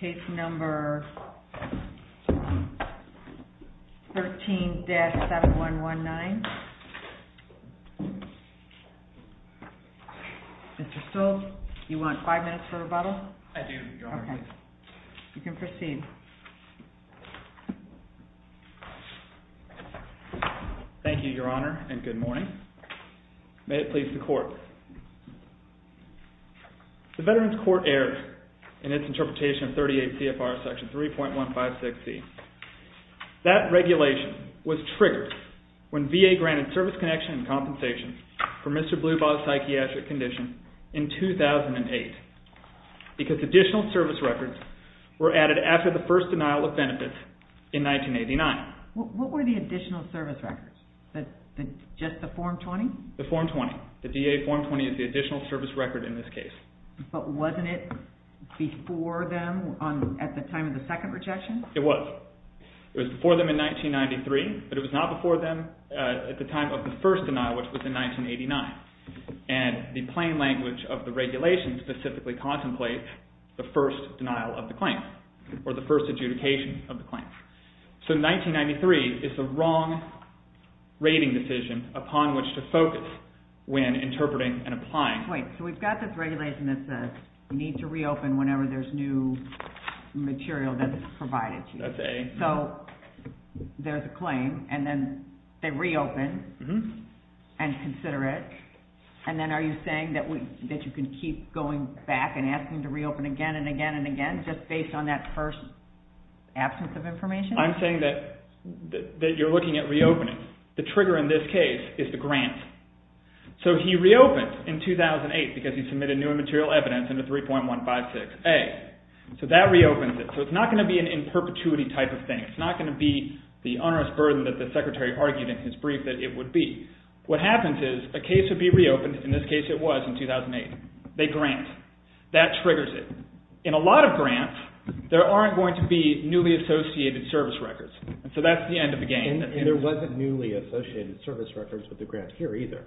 Case No. 13-7119. Mr. Stoltz, do you want five minutes for rebuttal? I do, Your Honor. Okay. You can proceed. Thank you, Your Honor, and good morning. May it please the Court. The Veterans Court erred in its interpretation of 38 CFR Section 3.156e. That regulation was triggered when VA granted service connection and compensation for Mr. Blubaugh's psychiatric condition in 2008 because additional service records were added after the first denial of benefits in 1989. What were the additional service records? Just the Form 20? The Form 20. The DA Form 20 is the additional service record in this case. But wasn't it before them at the time of the second rejection? It was. It was before them in 1993, but it was not before them at the time of the first denial, which was in 1989. And the plain language of the regulation specifically contemplates the first denial of the claim or the first adjudication of the claim. So 1993 is the wrong rating decision upon which to focus when interpreting and applying. Wait. So we've got this regulation that says you need to reopen whenever there's new material that's provided to you. So there's a claim, and then they reopen and consider it. And then are you saying that you can keep going back and asking to reopen again and again and again just based on that first absence of information? I'm saying that you're looking at reopening. The trigger in this case is the grant. So he reopened in 2008 because he submitted new and material evidence under 3.156A. So that reopens it. So it's not going to be an in perpetuity type of thing. It's not going to be the onerous burden that the Secretary argued in his brief that it would be. What happens is a case would be reopened – in this case it was in 2008. They grant. That triggers it. In a lot of grants, there aren't going to be newly associated service records. So that's the end of the game. And there wasn't newly associated service records with the grant here either.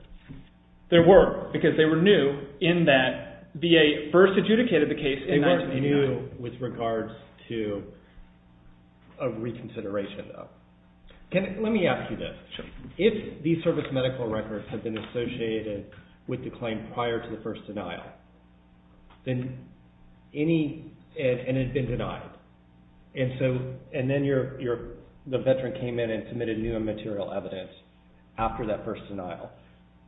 There were because they were new in that VA first adjudicated the case in 1989. They weren't new with regards to a reconsideration though. Let me ask you this. If these service medical records have been associated with the claim prior to the first denial, and it had been denied, and then the veteran came in and submitted new and material evidence after that first denial,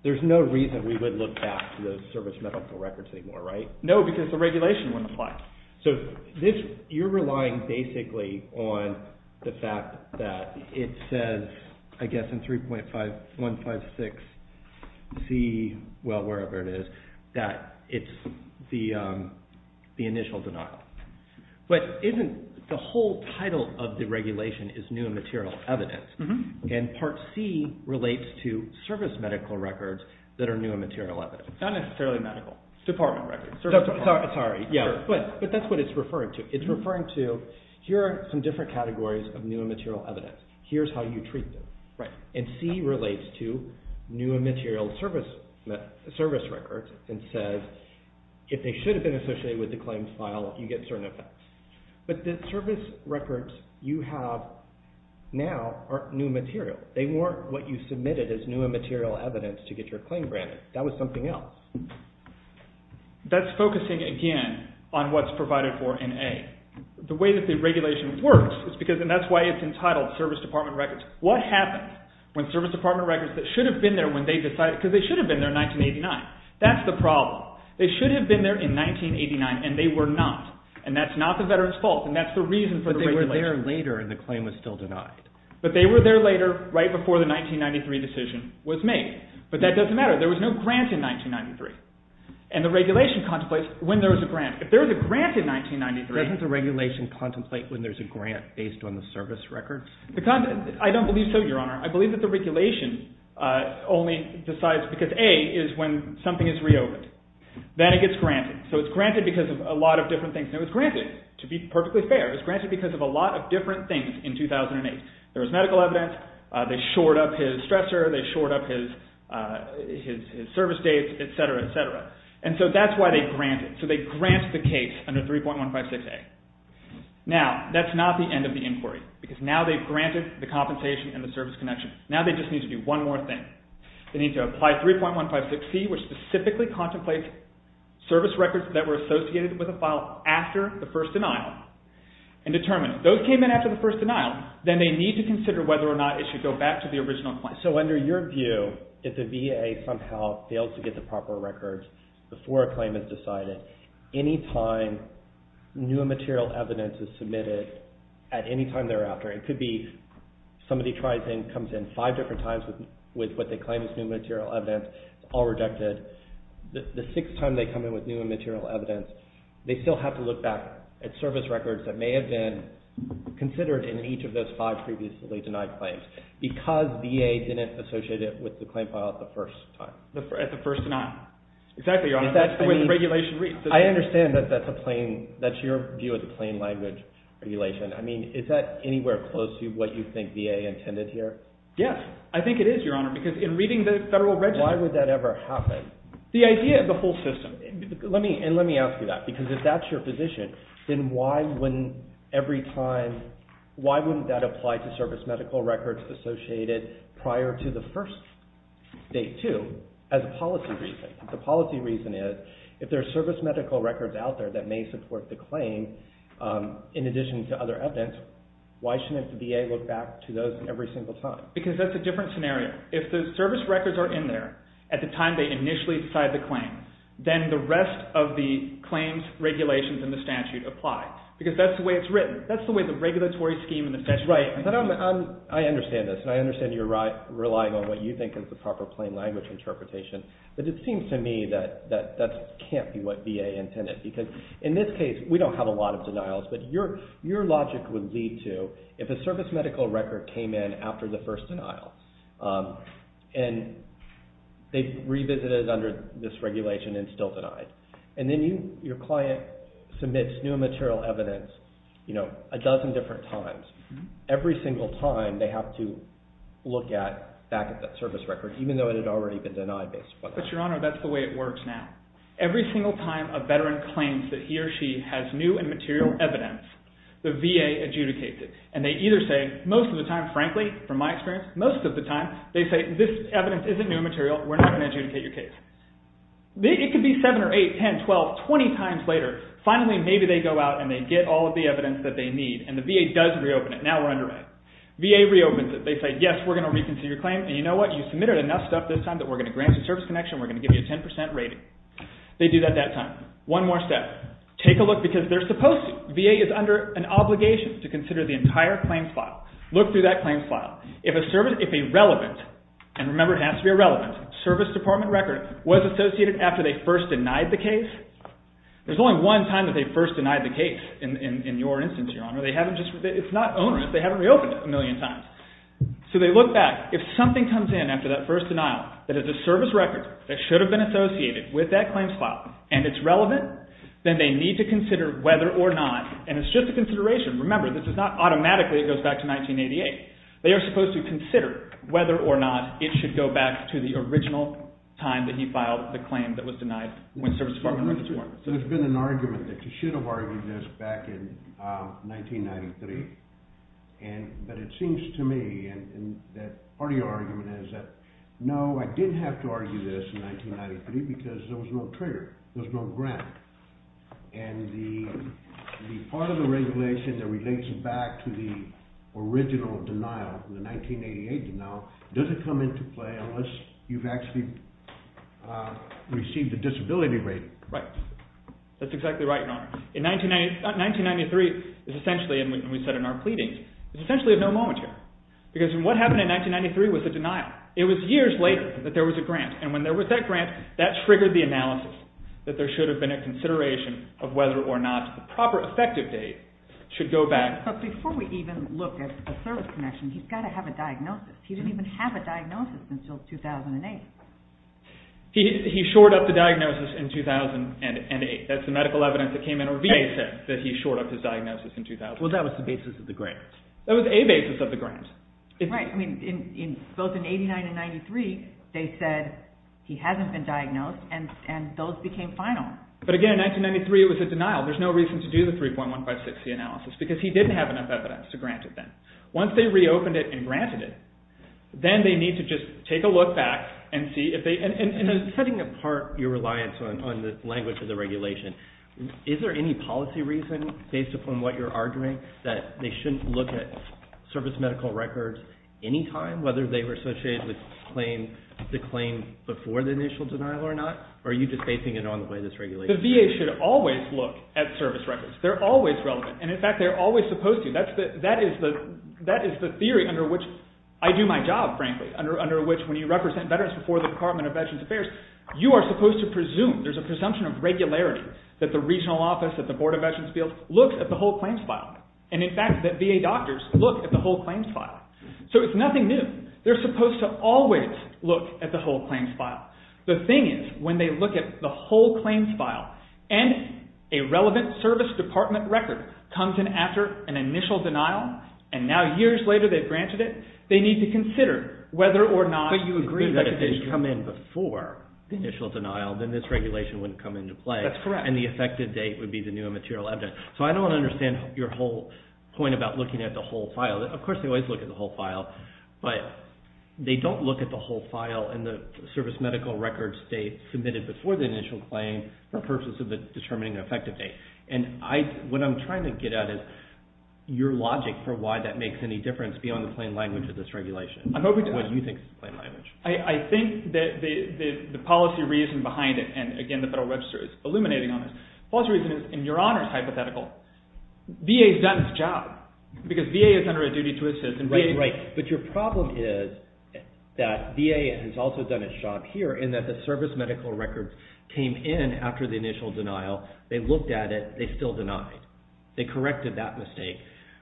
there's no reason we would look back to those service medical records anymore, right? No, because the regulation wouldn't apply. So you're relying basically on the fact that it says, I guess, in 3.156Z, well, wherever it is, that it's the initial denial. But isn't the whole title of the regulation is new and material evidence? And part C relates to service medical records that are new and material evidence. Not necessarily medical. Department records. Sorry, but that's what it's referring to. It's referring to, here are some different categories of new and material evidence. Here's how you treat them. And C relates to new and material service records and says, if they should have been associated with the claims file, you get certain effects. But the service records you have now are new material. They weren't what you submitted as new and material evidence to get your claim granted. That was something else. That's focusing again on what's provided for in A. The way that the regulation works is because – and that's why it's entitled service department records. What happens when service department records that should have been there when they decided – they should have been there in 1989, and they were not. And that's not the veteran's fault, and that's the reason for the regulation. But they were there later, and the claim was still denied. But they were there later, right before the 1993 decision was made. But that doesn't matter. There was no grant in 1993. And the regulation contemplates when there was a grant. If there was a grant in 1993 – Doesn't the regulation contemplate when there's a grant based on the service records? I don't believe so, Your Honor. I believe that the regulation only decides because A is when something is reopened. Then it gets granted. So it's granted because of a lot of different things. And it was granted, to be perfectly fair. It was granted because of a lot of different things in 2008. There was medical evidence. They shored up his stressor. They shored up his service dates, etc., etc. And so that's why they grant it. So they grant the case under 3.156A. Now, that's not the end of the inquiry, because now they've granted the compensation and the service connection. Now they just need to do one more thing. They need to apply 3.156C, which specifically contemplates service records that were associated with a file after the first denial, and determine if those came in after the first denial, then they need to consider whether or not it should go back to the original claim. So under your view, if the VA somehow fails to get the proper records before a claim is decided, any time new and material evidence is submitted at any time thereafter, it could be somebody comes in five different times with what they claim is new material evidence, all rejected. The sixth time they come in with new and material evidence, they still have to look back at service records that may have been considered in each of those five previously denied claims because VA didn't associate it with the claim file at the first time. At the first denial. Exactly, Your Honor. That's the way the regulation reads. I understand that that's your view of the plain language regulation. I mean, is that anywhere close to what you think VA intended here? Yes, I think it is, Your Honor, because in reading the Federal Register… Why would that ever happen? The idea of the whole system. Let me ask you that, because if that's your position, then why wouldn't every time, why wouldn't that apply to service medical records prior to the first day, too, as a policy reason? The policy reason is if there are service medical records out there that may support the claim in addition to other evidence, why shouldn't the VA look back to those every single time? Because that's a different scenario. If the service records are in there at the time they initially decide the claim, then the rest of the claims regulations in the statute apply because that's the way it's written. That's the way the regulatory scheme in the statute is written. That's right, but I understand this, and I understand you're relying on what you think is the proper plain language interpretation, but it seems to me that that can't be what VA intended, because in this case, we don't have a lot of denials, but your logic would lead to if a service medical record came in after the first denial, and they revisited under this regulation and still denied, and then your client submits new material evidence a dozen different times, every single time they have to look back at that service record, even though it had already been denied based upon that. But, Your Honor, that's the way it works now. Every single time a veteran claims that he or she has new and material evidence, the VA adjudicates it, and they either say most of the time, frankly, from my experience, most of the time, they say this evidence isn't new material. We're not going to adjudicate your case. It could be 7 or 8, 10, 12, 20 times later, finally, maybe they go out and they get all of the evidence that they need, and the VA does reopen it. Now we're under it. VA reopens it. They say, yes, we're going to reconsider your claim, and you know what? You submitted enough stuff this time that we're going to grant you service connection. We're going to give you a 10% rating. They do that that time. One more step. Take a look, because they're supposed to. VA is under an obligation to consider the entire claims file. Look through that claims file. If a relevant, and remember it has to be a relevant, service department record was associated after they first denied the case, there's only one time that they first denied the case in your instance, Your Honor. It's not onerous. They haven't reopened it a million times. So they look back. If something comes in after that first denial that is a service record that should have been associated with that claims file, and it's relevant, then they need to consider whether or not, and it's just a consideration. Remember, this is not automatically it goes back to 1988. They are supposed to consider whether or not it should go back to the original time that he filed the claim that was denied when service department records were. There's been an argument that you should have argued this back in 1993, but it seems to me that part of your argument is that, no, I didn't have to argue this in 1993 because there was no trigger. There was no grant. And the part of the regulation that relates back to the original denial, the 1988 denial, doesn't come into play unless you've actually received a disability rating. Right. That's exactly right, Your Honor. In 1993, it's essentially, and we said in our pleadings, it's essentially a no moment here. Because what happened in 1993 was a denial. It was years later that there was a grant, and when there was that grant, that triggered the analysis that there should have been a consideration of whether or not the proper effective date should go back. But before we even look at a service connection, he's got to have a diagnosis. He didn't even have a diagnosis until 2008. He shored up the diagnosis in 2008. That's the medical evidence that came in. Or VA said that he shored up his diagnosis in 2008. Well, that was the basis of the grant. That was a basis of the grant. Right. Both in 1989 and 1993, they said he hasn't been diagnosed, and those became final. But again, in 1993, it was a denial. There's no reason to do the 3.156C analysis because he didn't have enough evidence to grant it then. Once they reopened it and granted it, then they need to just take a look back and see if they – Setting apart your reliance on the language of the regulation, is there any policy reason, based upon what you're arguing, that they shouldn't look at service medical records any time, whether they were associated with the claim before the initial denial or not, or are you just basing it on the way this regulation works? The VA should always look at service records. They're always relevant, and in fact, they're always supposed to. That is the theory under which I do my job, frankly, under which when you represent veterans before the Department of Veterans Affairs, you are supposed to presume – there's a presumption of regularity that the regional office, that the Board of Veterans' Appeals, look at the whole claims file. And in fact, that VA doctors look at the whole claims file. So it's nothing new. They're supposed to always look at the whole claims file. The thing is, when they look at the whole claims file and a relevant service department record comes in after an initial denial, and now years later they've granted it, they need to consider whether or not – But you agree that if they come in before the initial denial, then this regulation wouldn't come into play. That's correct. And the effective date would be the new material evidence. So I don't understand your whole point about looking at the whole file. Of course, they always look at the whole file, but they don't look at the whole file and the service medical records date submitted before the initial claim for purposes of determining the effective date. And what I'm trying to get at is your logic for why that makes any difference beyond the plain language of this regulation or what you think is the plain language. I think that the policy reason behind it, and again, the Federal Register is illuminating on this, the policy reason is, in your honor's hypothetical, VA's done its job. Because VA is under a duty to assist. Right, right. But your problem is that VA has also done its job here in that the service medical records came in after the initial denial. They looked at it. They still denied. They corrected that mistake.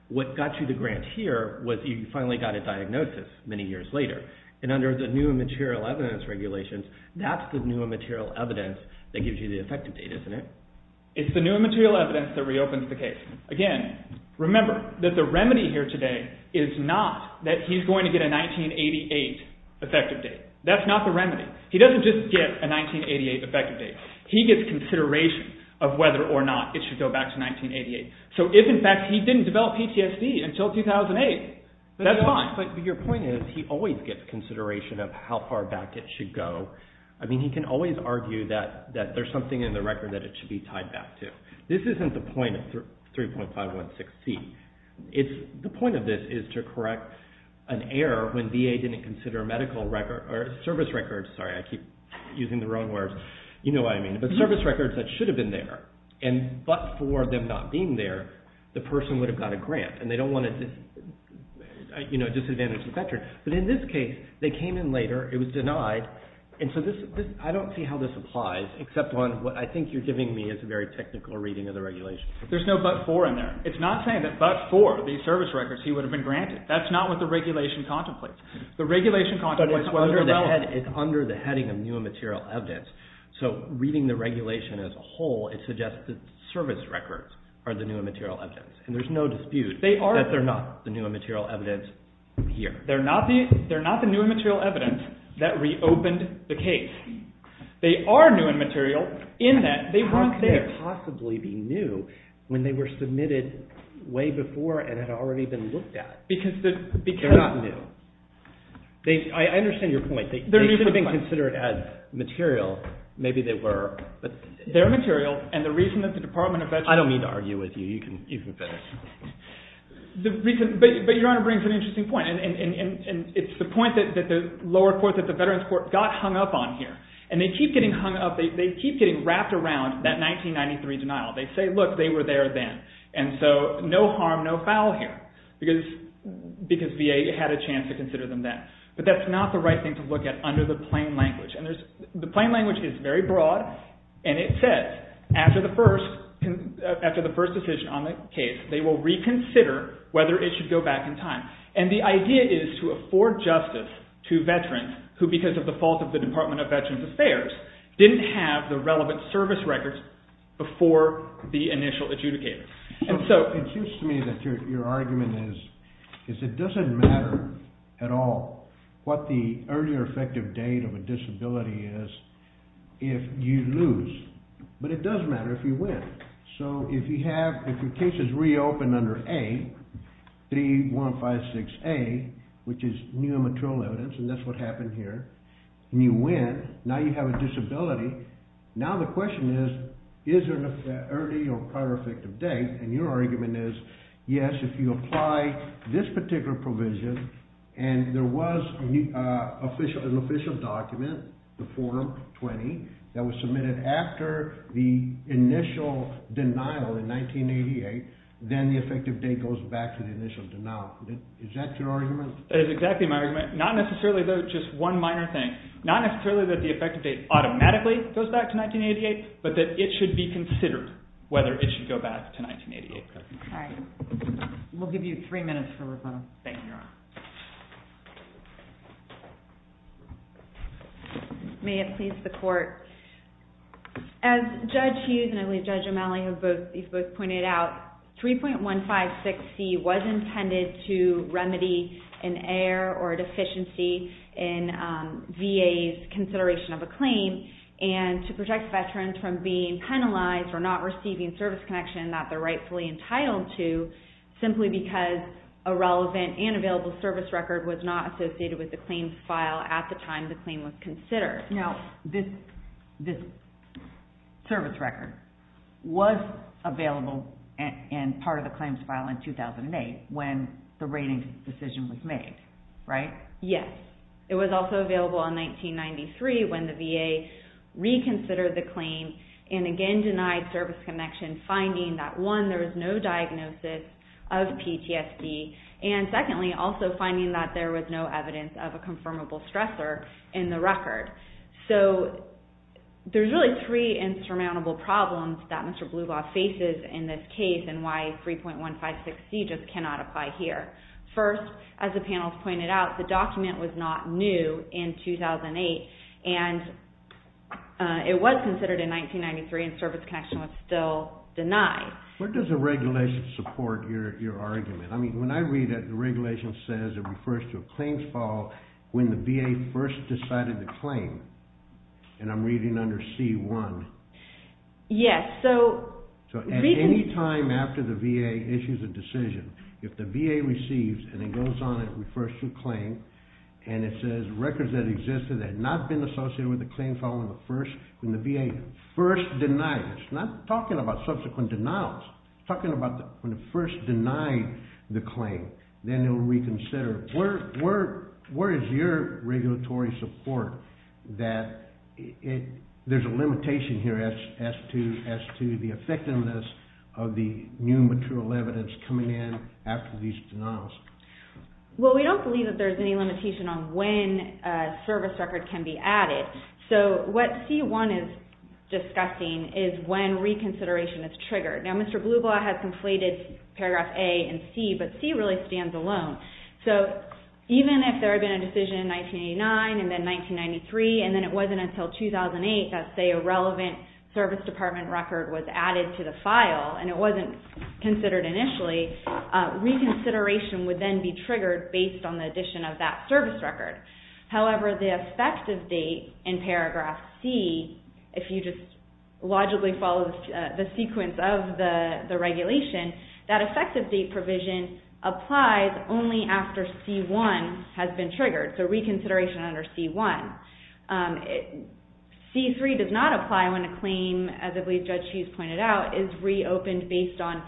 What got you the grant here was you finally got a diagnosis many years later. And under the new material evidence regulations, that's the new material evidence that gives you the effective date, isn't it? It's the new material evidence that reopens the case. Again, remember that the remedy here today is not that he's going to get a 1988 effective date. That's not the remedy. He doesn't just get a 1988 effective date. He gets consideration of whether or not it should go back to 1988. So if, in fact, he didn't develop PTSD until 2008, that's fine. But your point is he always gets consideration of how far back it should go. I mean, he can always argue that there's something in the record that it should be tied back to. This isn't the point of 3.516C. The point of this is to correct an error when VA didn't consider medical records, or service records, sorry, I keep using the wrong words. You know what I mean. But service records that should have been there, and but for them not being there, the person would have got a grant, and they don't want to disadvantage the veteran. But in this case, they came in later. It was denied. And so I don't see how this applies, except on what I think you're giving me as a very technical reading of the regulations. There's no but for in there. It's not saying that but for these service records he would have been granted. That's not what the regulation contemplates. The regulation contemplates whether or not it's under the heading of new and material evidence. So reading the regulation as a whole, it suggests that service records are the new and material evidence. And there's no dispute that they're not the new and material evidence here. They're not the new and material evidence that reopened the case. They are new and material in that they weren't there. How could they possibly be new when they were submitted way before and had already been looked at? Because they're not new. I understand your point. They should have been considered as material. Maybe they were. But they're material. And the reason that the Department of Veterans I don't mean to argue with you. You can finish. But Your Honor brings an interesting point. And it's the point that the lower court, that the Veterans Court, got hung up on here. And they keep getting hung up. They keep getting wrapped around that 1993 denial. They say, look, they were there then. And so no harm, no foul here. Because VA had a chance to consider them then. But that's not the right thing to look at under the plain language. And the plain language is very broad. And it says, after the first decision on the case, they will reconsider whether it should go back in time. And the idea is to afford justice to veterans who, because of the fault of the Department of Veterans Affairs, didn't have the relevant service records before the initial adjudicator. And so it seems to me that your argument is it doesn't matter at all what the early or effective date of a disability is if you lose. But it does matter if you win. So if your case is reopened under A, 3156A, which is new and material evidence, and that's what happened here, and you win, now you have a disability. Now the question is, is there an early or prior effective date? And your argument is, yes, if you apply this particular provision and there was an official document, the form 20, that was submitted after the initial denial in 1988, then the effective date goes back to the initial denial. Is that your argument? That is exactly my argument. Not necessarily, though, just one minor thing. Not necessarily that the effective date automatically goes back to 1988, but that it should be considered whether it should go back to 1988. All right. We'll give you three minutes for rebuttal. Thank you, Your Honor. May it please the Court. As Judge Hughes and I believe Judge O'Malley have both pointed out, 3.156C was intended to remedy an error or deficiency in VA's consideration of a claim and to protect veterans from being penalized or not receiving service connection that they're rightfully entitled to simply because a relevant and available service record was not associated with the claims file at the time the claim was considered. Now, this service record was available and part of the claims file in 2008 when the rating decision was made, right? Yes. It was also available in 1993 when the VA reconsidered the claim and again denied service connection, finding that one, there was no diagnosis of PTSD and secondly, also finding that there was no evidence of a confirmable stressor in the record. So there's really three insurmountable problems that Mr. Bluvaugh faces in this case and why 3.156C just cannot apply here. First, as the panel has pointed out, the document was not new in 2008 and it was considered in 1993 and service connection was still denied. Where does the regulation support your argument? I mean, when I read it, the regulation says it refers to a claims file when the VA first decided the claim and I'm reading under C1. Yes, so... So at any time after the VA issues a decision, if the VA receives and it goes on and it refers to a claim and it says records that existed that had not been associated with the claim following the first, when the VA first denied it, it's not talking about subsequent denials, it's talking about when it first denied the claim, then it'll reconsider. Where is your regulatory support that there's a limitation here as to the effectiveness of the new material evidence coming in after these denials? Well, we don't believe that there's any limitation on when a service record can be added. So what C1 is discussing is when reconsideration is triggered. Now, Mr. Blublaw has conflated paragraph A and C, but C really stands alone. So even if there had been a decision in 1989 and then 1993 and then it wasn't until 2008 that, say, a relevant service department record was added to the file and it wasn't considered initially, reconsideration would then be triggered based on the addition of that service record. However, the effective date in paragraph C, if you just logically follow the sequence of the regulation, that effective date provision applies only after C1 has been triggered, so reconsideration under C1. C3 does not apply when a claim, as I believe Judge Hughes pointed out, is reopened based on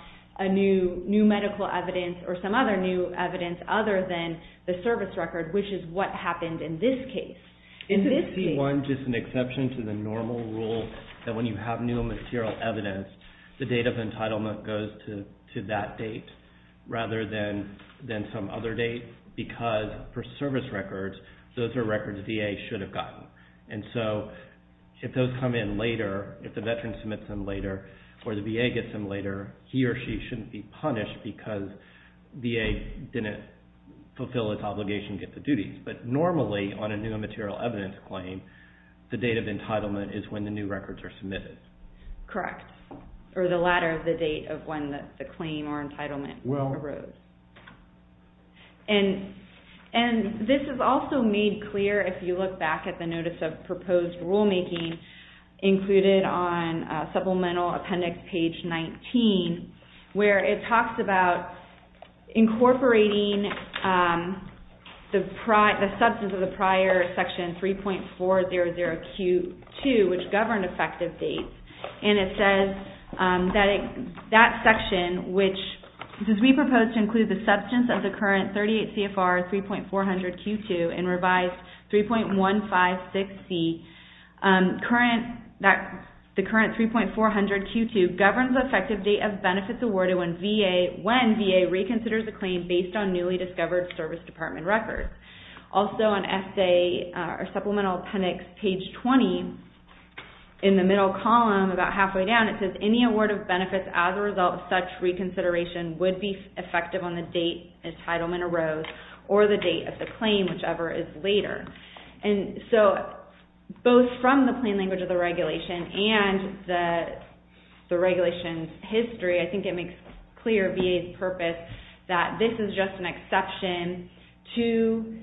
new medical evidence or some other new evidence other than the service record, which is what happened in this case. Isn't C1 just an exception to the normal rule that when you have new material evidence, the date of entitlement goes to that date rather than some other date? Because for service records, those are records VA should have gotten. And so if those come in later, if the veteran submits them later, or the VA gets them later, he or she shouldn't be punished because VA didn't fulfill its obligation to get the duties. But normally, on a new material evidence claim, the date of entitlement is when the new records are submitted. Correct, or the latter of the date of when the claim or entitlement arose. And this is also made clear if you look back at the Notice of Proposed Rulemaking included on Supplemental Appendix Page 19, where it talks about incorporating the substance of the prior Section 3.400Q2, which governed effective dates. And it says that that section, which says, We propose to include the substance of the current 38 CFR 3.400Q2 in revised 3.156C, the current 3.400Q2 governs the effective date of benefits awarded when VA reconsiders a claim based on newly discovered Service Department records. Also on Supplemental Appendix Page 20, in the middle column, about halfway down, it says, Any award of benefits as a result of such reconsideration would be effective on the date entitlement arose or the date of the claim, whichever is later. And so, both from the plain language of the regulation and the regulation's history, I think it makes clear VA's purpose that this is just an exception to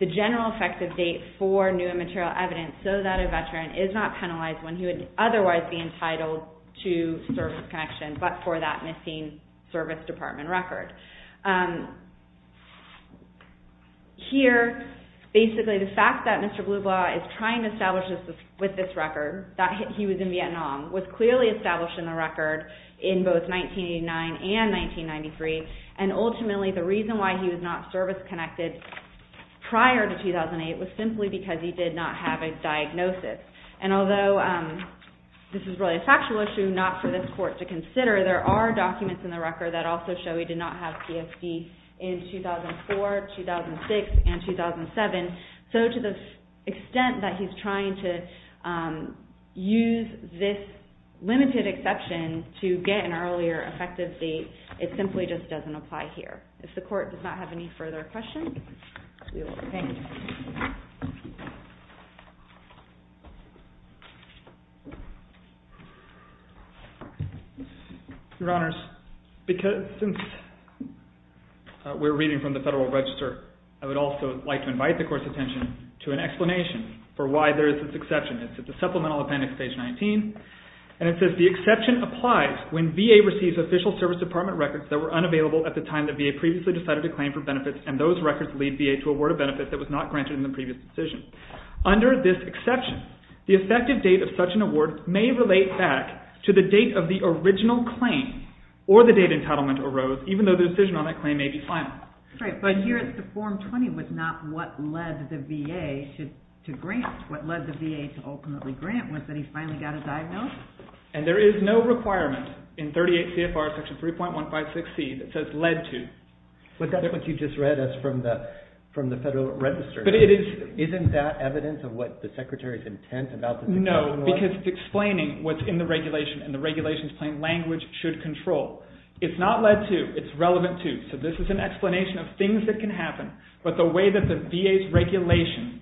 the general effective date for new and material evidence so that a veteran is not penalized when he would otherwise be entitled to service connection, but for that missing Service Department record. Here, basically, the fact that Mr. Blublaw is trying to establish this with this record, that he was in Vietnam, was clearly established in the record in both 1989 and 1993, and ultimately the reason why he was not service-connected prior to 2008 was simply because he did not have a diagnosis. And although this is really a factual issue, not for this Court to consider, there are documents in the record that also show he did not have a diagnosis of PTSD in 2004, 2006, and 2007. So, to the extent that he's trying to use this limited exception to get an earlier effective date, it simply just doesn't apply here. If the Court does not have any further questions, we will end. Your Honors, since we're reading from the Federal Register, I would also like to invite the Court's attention to an explanation for why there is this exception. It's at the Supplemental Appendix, page 19, and it says, The exception applies when VA receives official Service Department records that were unavailable at the time the VA previously decided to claim for benefits, that was not available at the time the VA previously decided to claim for benefits. Under this exception, the effective date of such an award may relate back to the date of the original claim or the date entitlement arose, even though the decision on that claim may be final. Right, but here it's the Form 20, but not what led the VA to grant. What led the VA to ultimately grant was that he finally got a diagnosis. And there is no requirement in 38 CFR Section 3.156C that says, led to. But that's what you just read and that's from the Federal Register. Isn't that evidence of what the Secretary's intent about the decision was? No, because it's explaining what's in the regulation and the regulation's plain language should control. It's not led to, it's relevant to. So this is an explanation of things that can happen, but the way that the VA's regulation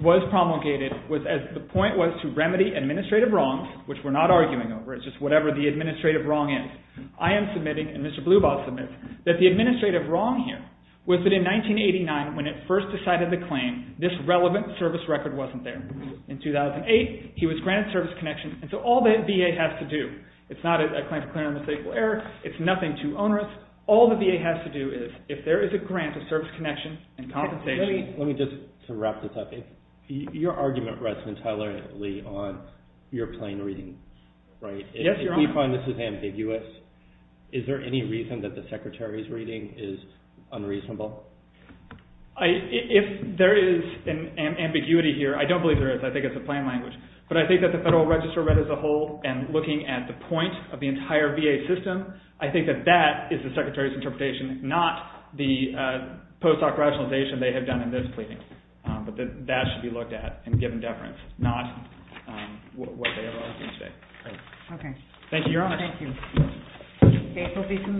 was promulgated was as the point was to remedy administrative wrongs, which we're not arguing over, it's just whatever the administrative wrong is. I am submitting, and Mr. Blubaugh submits, that the administrative wrong here was that in 1989, when it first decided the claim, this relevant service record wasn't there. In 2008, he was granted service connection, and so all the VA has to do, it's not a claim for clear and mistakable error, it's nothing too onerous, all the VA has to do is, if there is a grant of service connection and compensation. Let me just wrap this up. Your argument rests entirely on your plain reading, right? Yes, Your Honor. If we find this is ambiguous, is there any reason that the Secretary's reading is unreasonable? If there is an ambiguity here, I don't believe there is, I think it's a plain language, but I think that the Federal Register read as a whole, and looking at the point of the entire VA system, I think that that is the Secretary's interpretation, not the post-doc rationalization they have done in this pleading. But that should be looked at and given deference, not what they are arguing today. Okay. Thank you, Your Honor. Thank you.